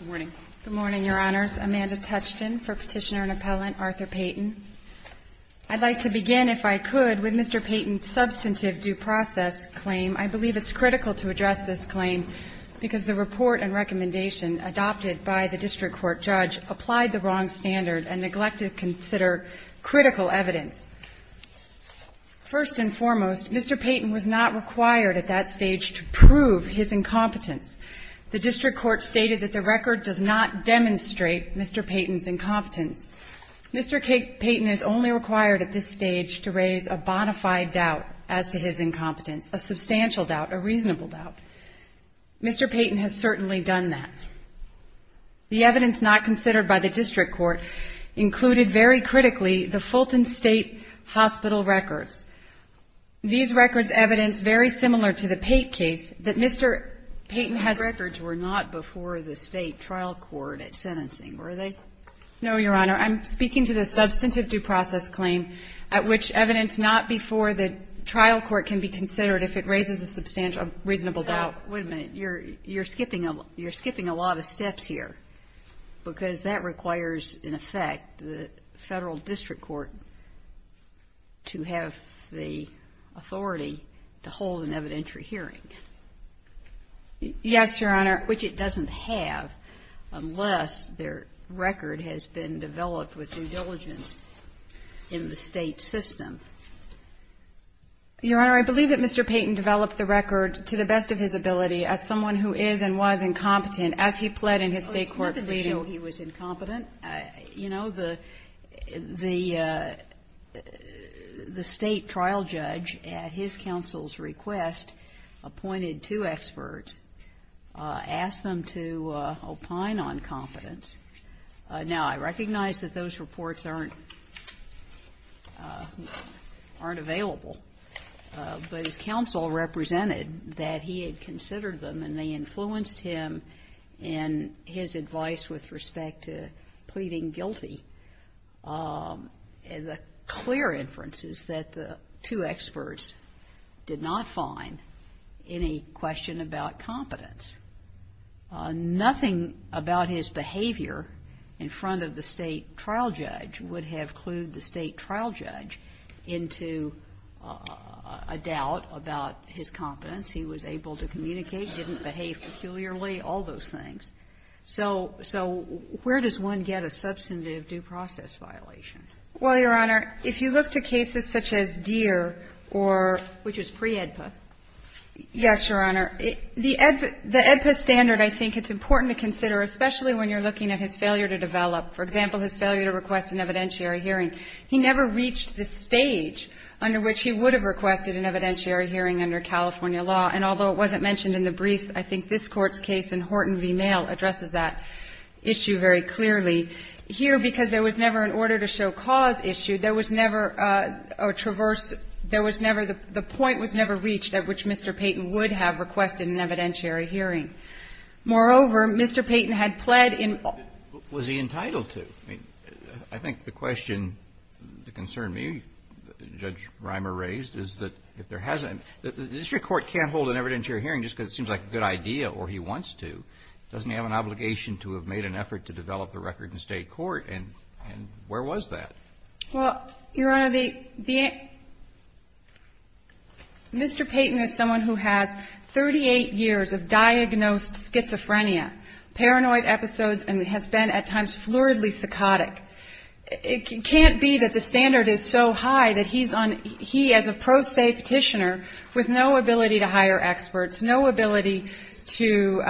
Good morning, Your Honors. Amanda Touchton for Petitioner and Appellant Arthur Payton. I'd like to begin, if I could, with Mr. Payton's substantive due process claim. I believe it's critical to address this claim because the report and recommendation adopted by the district court judge applied the wrong standard and neglected to consider critical evidence. First and foremost, Mr. Payton was not required at that stage to prove his incompetence The district court stated that the record does not demonstrate Mr. Payton's incompetence. Mr. Payton is only required at this stage to raise a bona fide doubt as to his incompetence, a substantial doubt, a reasonable doubt. Mr. Payton has certainly done that. The evidence not considered by the district court included very critically the Fulton State Hospital records. These records evidence very similar to the Pate case that Mr. Payton has been Your records were not before the State trial court at sentencing, were they? No, Your Honor. I'm speaking to the substantive due process claim at which evidence not before the trial court can be considered if it raises a substantial reasonable doubt. Wait a minute. You're skipping a lot of steps here because that requires, in effect, the Federal district court to have the authority to hold an evidentiary hearing. Yes, Your Honor. Which it doesn't have unless their record has been developed with due diligence in the State system. Your Honor, I believe that Mr. Payton developed the record to the best of his ability as someone who is and was incompetent as he pled in his State court pleading. Well, it's not to show he was incompetent. You know, the State trial judge at his counsel's request appointed two experts, asked them to opine on competence. Now, I recognize that those reports aren't available, but his counsel represented that he had considered them and they influenced him in his advice with respect to pleading guilty. The clear inference is that the two experts did not find any question about competence. Nothing about his behavior in front of the State trial judge would have clued the State trial judge into a doubt about his competence. He was able to communicate, didn't behave peculiarly, all those things. So where does one get a substantive due process violation? Well, Your Honor, if you look to cases such as Deere or — Which was pre-AEDPA. Yes, Your Honor. The AEDPA standard, I think, it's important to consider, especially when you're looking at his failure to develop. For example, his failure to request an evidentiary hearing. He never reached the stage under which he would have requested an evidentiary hearing under California law. And although it wasn't mentioned in the briefs, I think this Court's case in Horton v. Mail addresses that issue very clearly. Here, because there was never an order-to-show-cause issue, there was never a traversed — there was never — the point was never reached at which Mr. Payton would have requested an evidentiary hearing. Moreover, Mr. Payton had pled in — Was he entitled to? I mean, I think the question that concerned me, Judge Rimer raised, is that if there hasn't — the district court can't hold an evidentiary hearing just because it seems like a good idea or he wants to. It doesn't have an obligation to have made an effort to develop the record in State court. And where was that? Well, Your Honor, the — Mr. Payton is someone who has 38 years of diagnosed schizophrenia, paranoid episodes, and has been at times fluidly psychotic. It can't be that the standard is so high that he's on — he, as a pro se Petitioner with no ability to hire experts, no ability to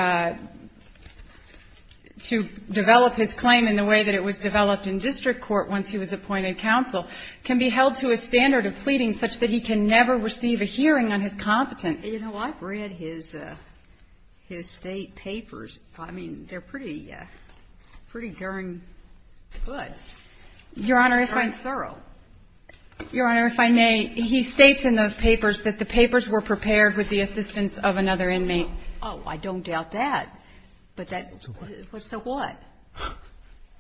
develop his claim in the way that it was developed in district court once he was appointed counsel, can be held to a standard of pleading such that he can never receive a hearing on his competence. And, you know, I've read his — his State papers. I mean, they're pretty — pretty darn good. Your Honor, if I may — And quite thorough. Your Honor, if I may, he states in those papers that the papers were prepared with the assistance of another inmate. Oh, I don't doubt that. But that — So what? So what?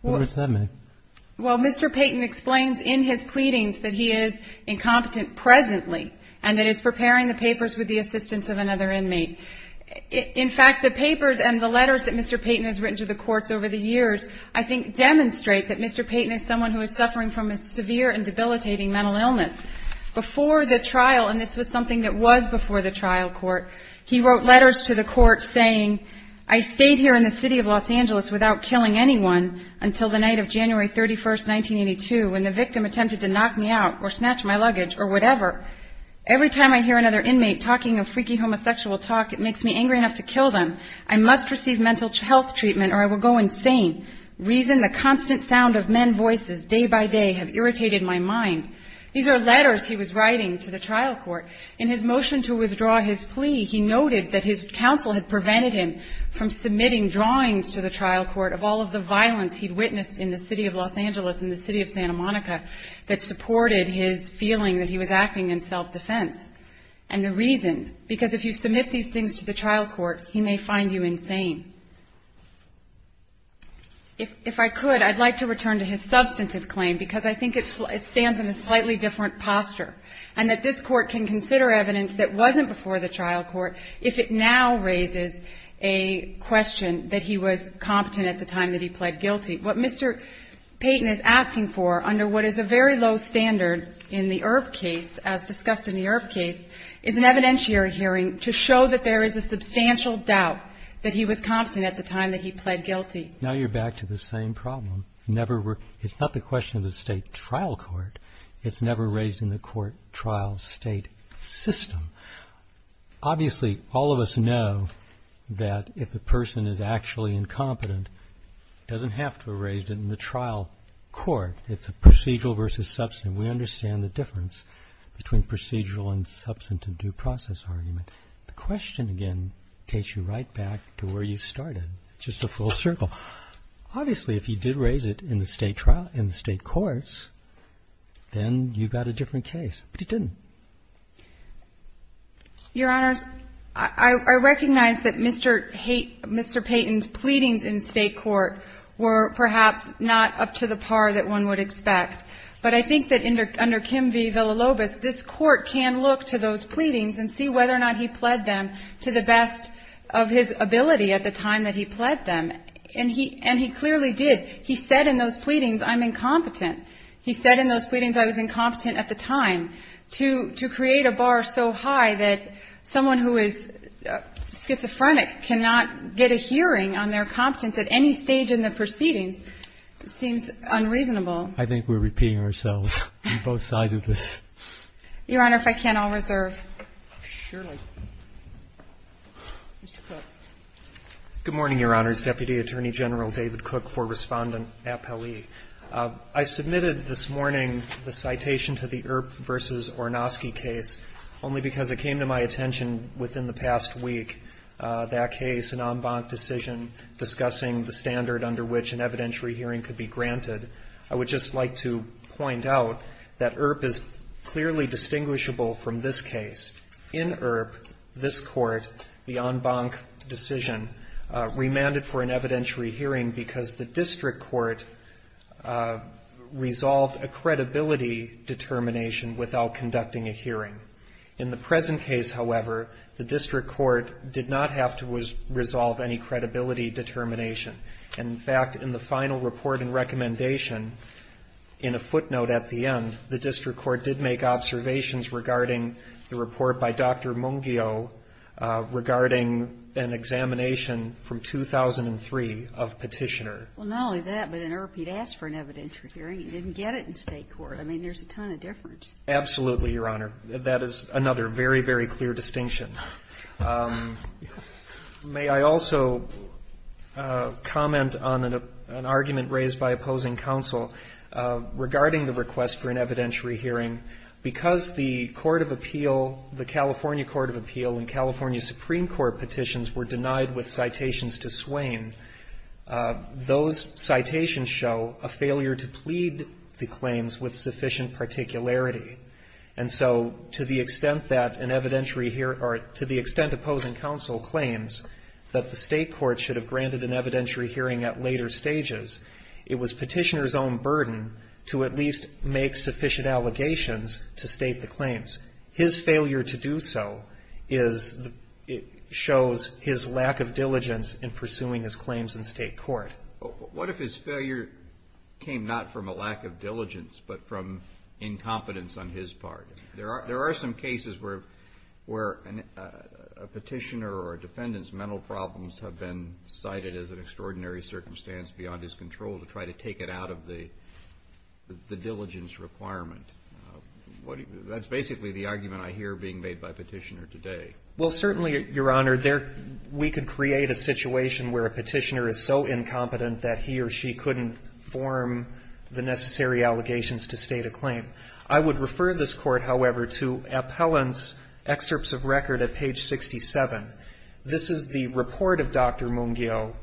What does that mean? Well, Mr. Payton explains in his pleadings that he is incompetent presently and that he's preparing the papers with the assistance of another inmate. In fact, the papers and the letters that Mr. Payton has written to the courts over the years, I think, demonstrate that Mr. Payton is someone who is suffering from a severe and debilitating mental illness. Before the trial, and this was something that was before the trial court, he wrote letters to the courts saying, I stayed here in the city of Los Angeles without killing anyone until the night of January 31st, 1982, when the victim attempted to knock me out or snatch my luggage or whatever. Every time I hear another inmate talking a freaky homosexual talk, it makes me angry enough to kill them. I must receive mental health treatment or I will go insane. Reason, the constant sound of men voices day by day, have irritated my mind. These are letters he was writing to the trial court. In his motion to withdraw his plea, he noted that his counsel had prevented him from submitting drawings to the trial court of all of the violence he'd witnessed in the city of Los Angeles, in the city of Santa Monica, that supported his feeling that he was acting in self-defense. And the reason, because if you submit these things to the trial court, he may find you insane. If I could, I'd like to return to his substantive claim, because I think it stands in a slightly different posture, and that this Court can consider evidence that wasn't before the trial court if it now raises a question that he was competent at the time that he pled guilty. What Mr. Payton is asking for under what is a very low standard in the Earp case, as discussed in the Earp case, is an evidentiary hearing to show that there is a substantial doubt that he was competent at the time that he pled guilty. Now you're back to the same problem. It's not the question of the state trial court. It's never raised in the court-trial-state system. Obviously, all of us know that if the person is actually incompetent, it doesn't have to be raised in the trial court. It's a procedural versus substantive. We understand the difference between procedural and substantive due process argument. The question, again, takes you right back to where you started, just a full circle. Obviously, if he did raise it in the state trial – in the state courts, then you've got a different case, but he didn't. Your Honors, I recognize that Mr. Payton's pleadings in state court were perhaps not up to the par that one would expect, but I think that under Kim v. Villalobos, this Court can look to those pleadings and see whether or not he pled them to the best of his ability at the time that he pled them. And he clearly did. He said in those pleadings, I'm incompetent. He said in those pleadings I was incompetent at the time. To create a bar so high that someone who is schizophrenic cannot get a hearing on their competence at any stage in the proceedings seems unreasonable. I think we're repeating ourselves on both sides of this. Your Honor, if I can, I'll reserve. Surely. Mr. Cook. Good morning, Your Honors. Deputy Attorney General David Cook for Respondent at Pele. I submitted this morning the citation to the Earp v. Ornosky case only because it came to my attention within the past week, that case, an en banc decision discussing the standard under which an evidentiary hearing could be granted. I would just like to point out that Earp is clearly distinguishable from this case. In Earp, this Court, the en banc decision remanded for an evidentiary hearing because the district court resolved a credibility determination without conducting a hearing. In the present case, however, the district court did not have to resolve any credibility determination. In fact, in the final report and recommendation, in a footnote at the end, the district court did make observations regarding the report by Dr. Mungio regarding an examination from 2003 of Petitioner. Well, not only that, but in Earp he'd asked for an evidentiary hearing. He didn't get it in State court. I mean, there's a ton of difference. Absolutely, Your Honor. That is another very, very clear distinction. May I also comment on an argument raised by opposing counsel regarding the request for an evidentiary hearing? Because the court of appeal, the California court of appeal and California Supreme Court petitions were denied with citations to Swain, those citations show a failure to plead the claims with sufficient particularity. And so to the extent that an evidentiary hearing or to the extent opposing counsel claims that the State court should have granted an evidentiary hearing at later stages, it was Petitioner's own burden to at least make sufficient allegations to state the claims. His failure to do so is the – shows his lack of diligence in pursuing his claims in State court. What if his failure came not from a lack of diligence, but from incompetence on his part? There are some cases where a Petitioner or a defendant's mental problems have been cited as an extraordinary circumstance beyond his control to try to take it out of the diligence requirement. That's basically the argument I hear being made by Petitioner today. Well, certainly, Your Honor, we could create a situation where a Petitioner is so incompetent that he or she couldn't form the necessary allegations to state a claim. I would refer this Court, however, to Appellant's excerpts of record at page 67. This is the report of Dr. Mungio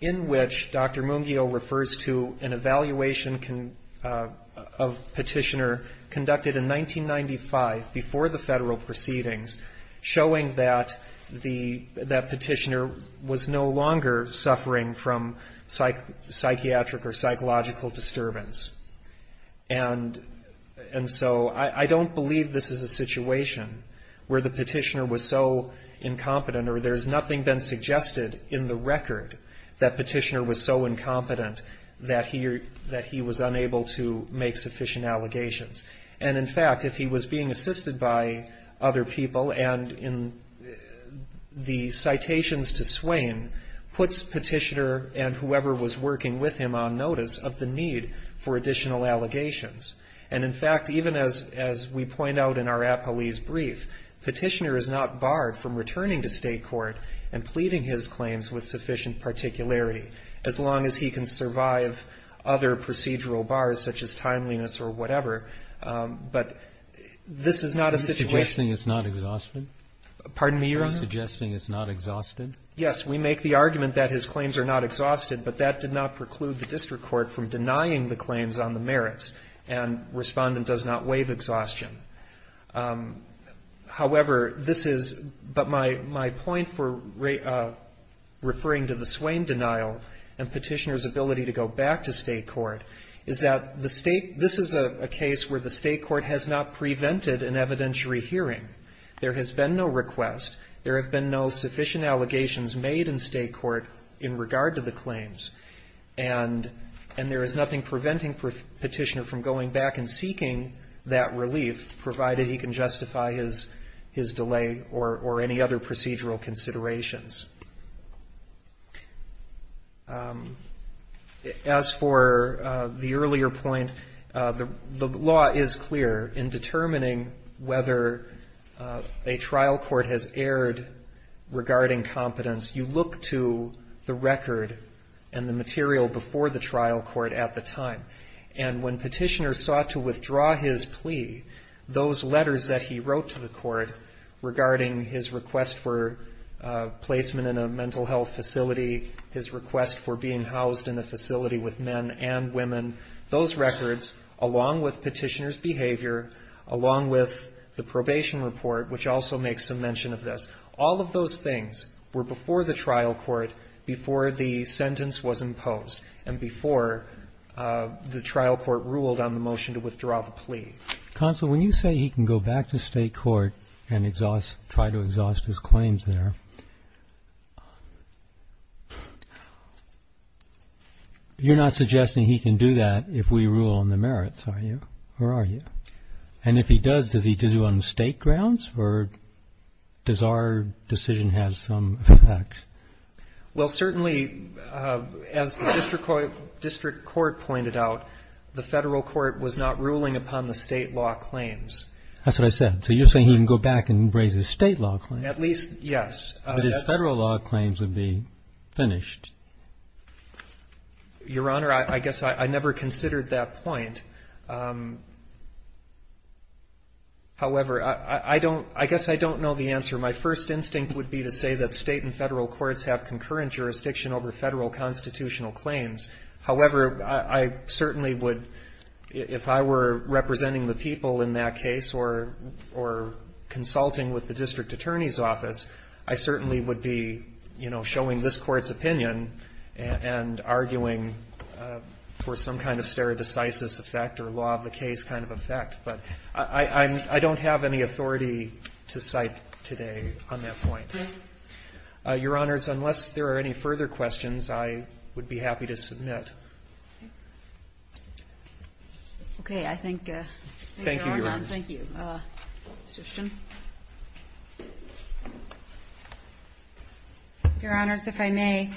in which Dr. Mungio refers to an evaluation of Petitioner conducted in 1995 before the Federal proceedings, showing that the – that Petitioner was no longer suffering from psychiatric or psychological disturbance. And so I don't believe this is a situation where the Petitioner was so incompetent or there's nothing been suggested in the record that Petitioner was so incompetent that he was unable to make sufficient allegations. And, in fact, if he was being assisted by other people and in the citations to Swain, puts Petitioner and whoever was working with him on notice of the need for additional allegations. And, in fact, even as we point out in our appellee's brief, Petitioner is not barred from returning to state court and pleading his claims with sufficient particularity as long as he can survive other procedural bars, such as timeliness or whatever. But this is not a situation. Roberts. Are you suggesting it's not exhausted? Pardon me, Your Honor? Are you suggesting it's not exhausted? Yes. We make the argument that his claims are not exhausted, but that did not preclude the district court from denying the claims on the merits, and Respondent does not waive exhaustion. However, this is, but my point for referring to the Swain denial and Petitioner's ability to go back to state court is that the state, this is a case where the state court has not prevented an evidentiary hearing. There has been no request. There have been no sufficient allegations made in state court in regard to the claims. And there is nothing preventing Petitioner from going back and seeking that relief provided he can justify his delay or any other procedural considerations. As for the earlier point, the law is clear in determining whether a trial court has erred regarding competence. You look to the record and the material before the trial court at the time. And when Petitioner sought to withdraw his plea, those letters that he wrote to the court regarding his request for placement in a mental health facility, his request for being housed in a facility with men and women, those records, along with Petitioner's behavior, along with the probation report, which also makes some mention of this, all of those things were before the trial court, before the sentence was imposed, and before the trial court ruled on the motion to withdraw the plea. Consul, when you say he can go back to state court and exhaust, try to exhaust his claims there, you're not suggesting he can do that if we rule on the merits, are you, or are you? And if he does, does he do it on state grounds, or does our decision have some effect? Well, certainly, as the district court pointed out, the federal court was not ruling upon the state law claims. That's what I said. So you're saying he can go back and raise his state law claims. At least, yes. But his federal law claims would be finished. Your Honor, I guess I never considered that point. However, I don't, I guess I don't know the answer. My first instinct would be to say that state and federal courts have concurrent jurisdiction over federal constitutional claims. However, I certainly would, if I were representing the people in that case or consulting with the district attorney's office, I certainly would be, you know, defending the district court's opinion and arguing for some kind of stare decisis effect or law of the case kind of effect. But I don't have any authority to cite today on that point. Really? Your Honors, unless there are any further questions, I would be happy to submit. Okay. I thank you, Your Honor. Thank you, Your Honor. Thank you. Ms. Christian. Your Honors, if I may,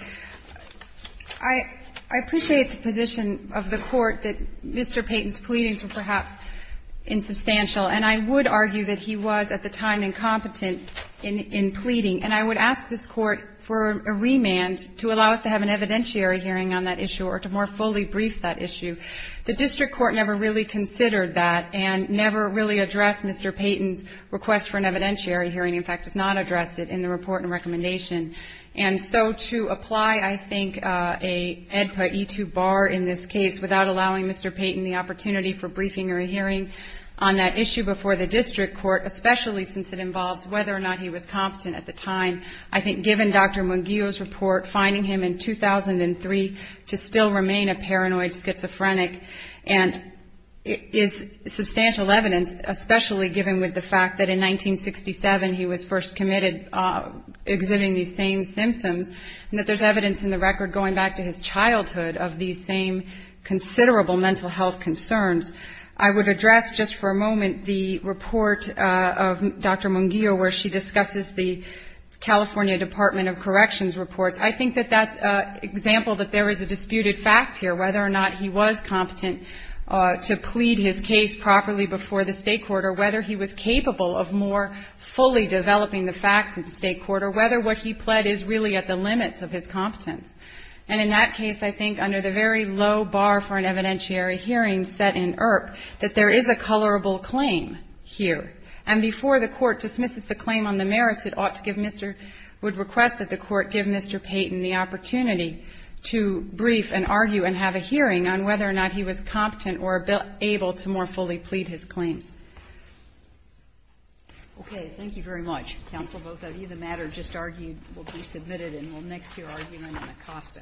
I appreciate the position of the Court that Mr. Payton's pleadings were perhaps insubstantial, and I would argue that he was at the time incompetent in pleading. And I would ask this Court for a remand to allow us to have an evidentiary hearing on that issue or to more fully brief that issue. The district court never really considered that and never really addressed Mr. Payton's request for an evidentiary hearing, in fact, did not address it in the report and recommendation. And so to apply, I think, a EDPA E2 bar in this case without allowing Mr. Payton the opportunity for briefing or a hearing on that issue before the district court, especially since it involves whether or not he was competent at the time, I think given Dr. Munguio's report finding him in 2003 to still remain a paranoid schizophrenic and is substantial evidence, especially given with the fact that in 1967 he was first committed, exhibiting these same symptoms, and that there's evidence in the record going back to his childhood of these same considerable mental health concerns. I would address just for a moment the report of Dr. Munguio where she discusses the California Department of Corrections reports. I think that that's an example that there is a disputed fact here, whether or not he was competent to plead his case properly before the State court or whether he was capable of more fully developing the facts in the State court or whether what he pled is really at the limits of his competence. And in that case, I think, under the very low bar for an evidentiary hearing set in ERP, that there is a colorable claim here. And before the Court dismisses the claim on the merits, it ought to give Mr. — would request that the Court give Mr. Payton the opportunity to brief and argue and have a hearing on whether or not he was competent or able to more fully plead his claims. Okay. Thank you very much. Counsel, both of you. The matter just argued will be submitted and will next hear argument in Acosta. Thank you.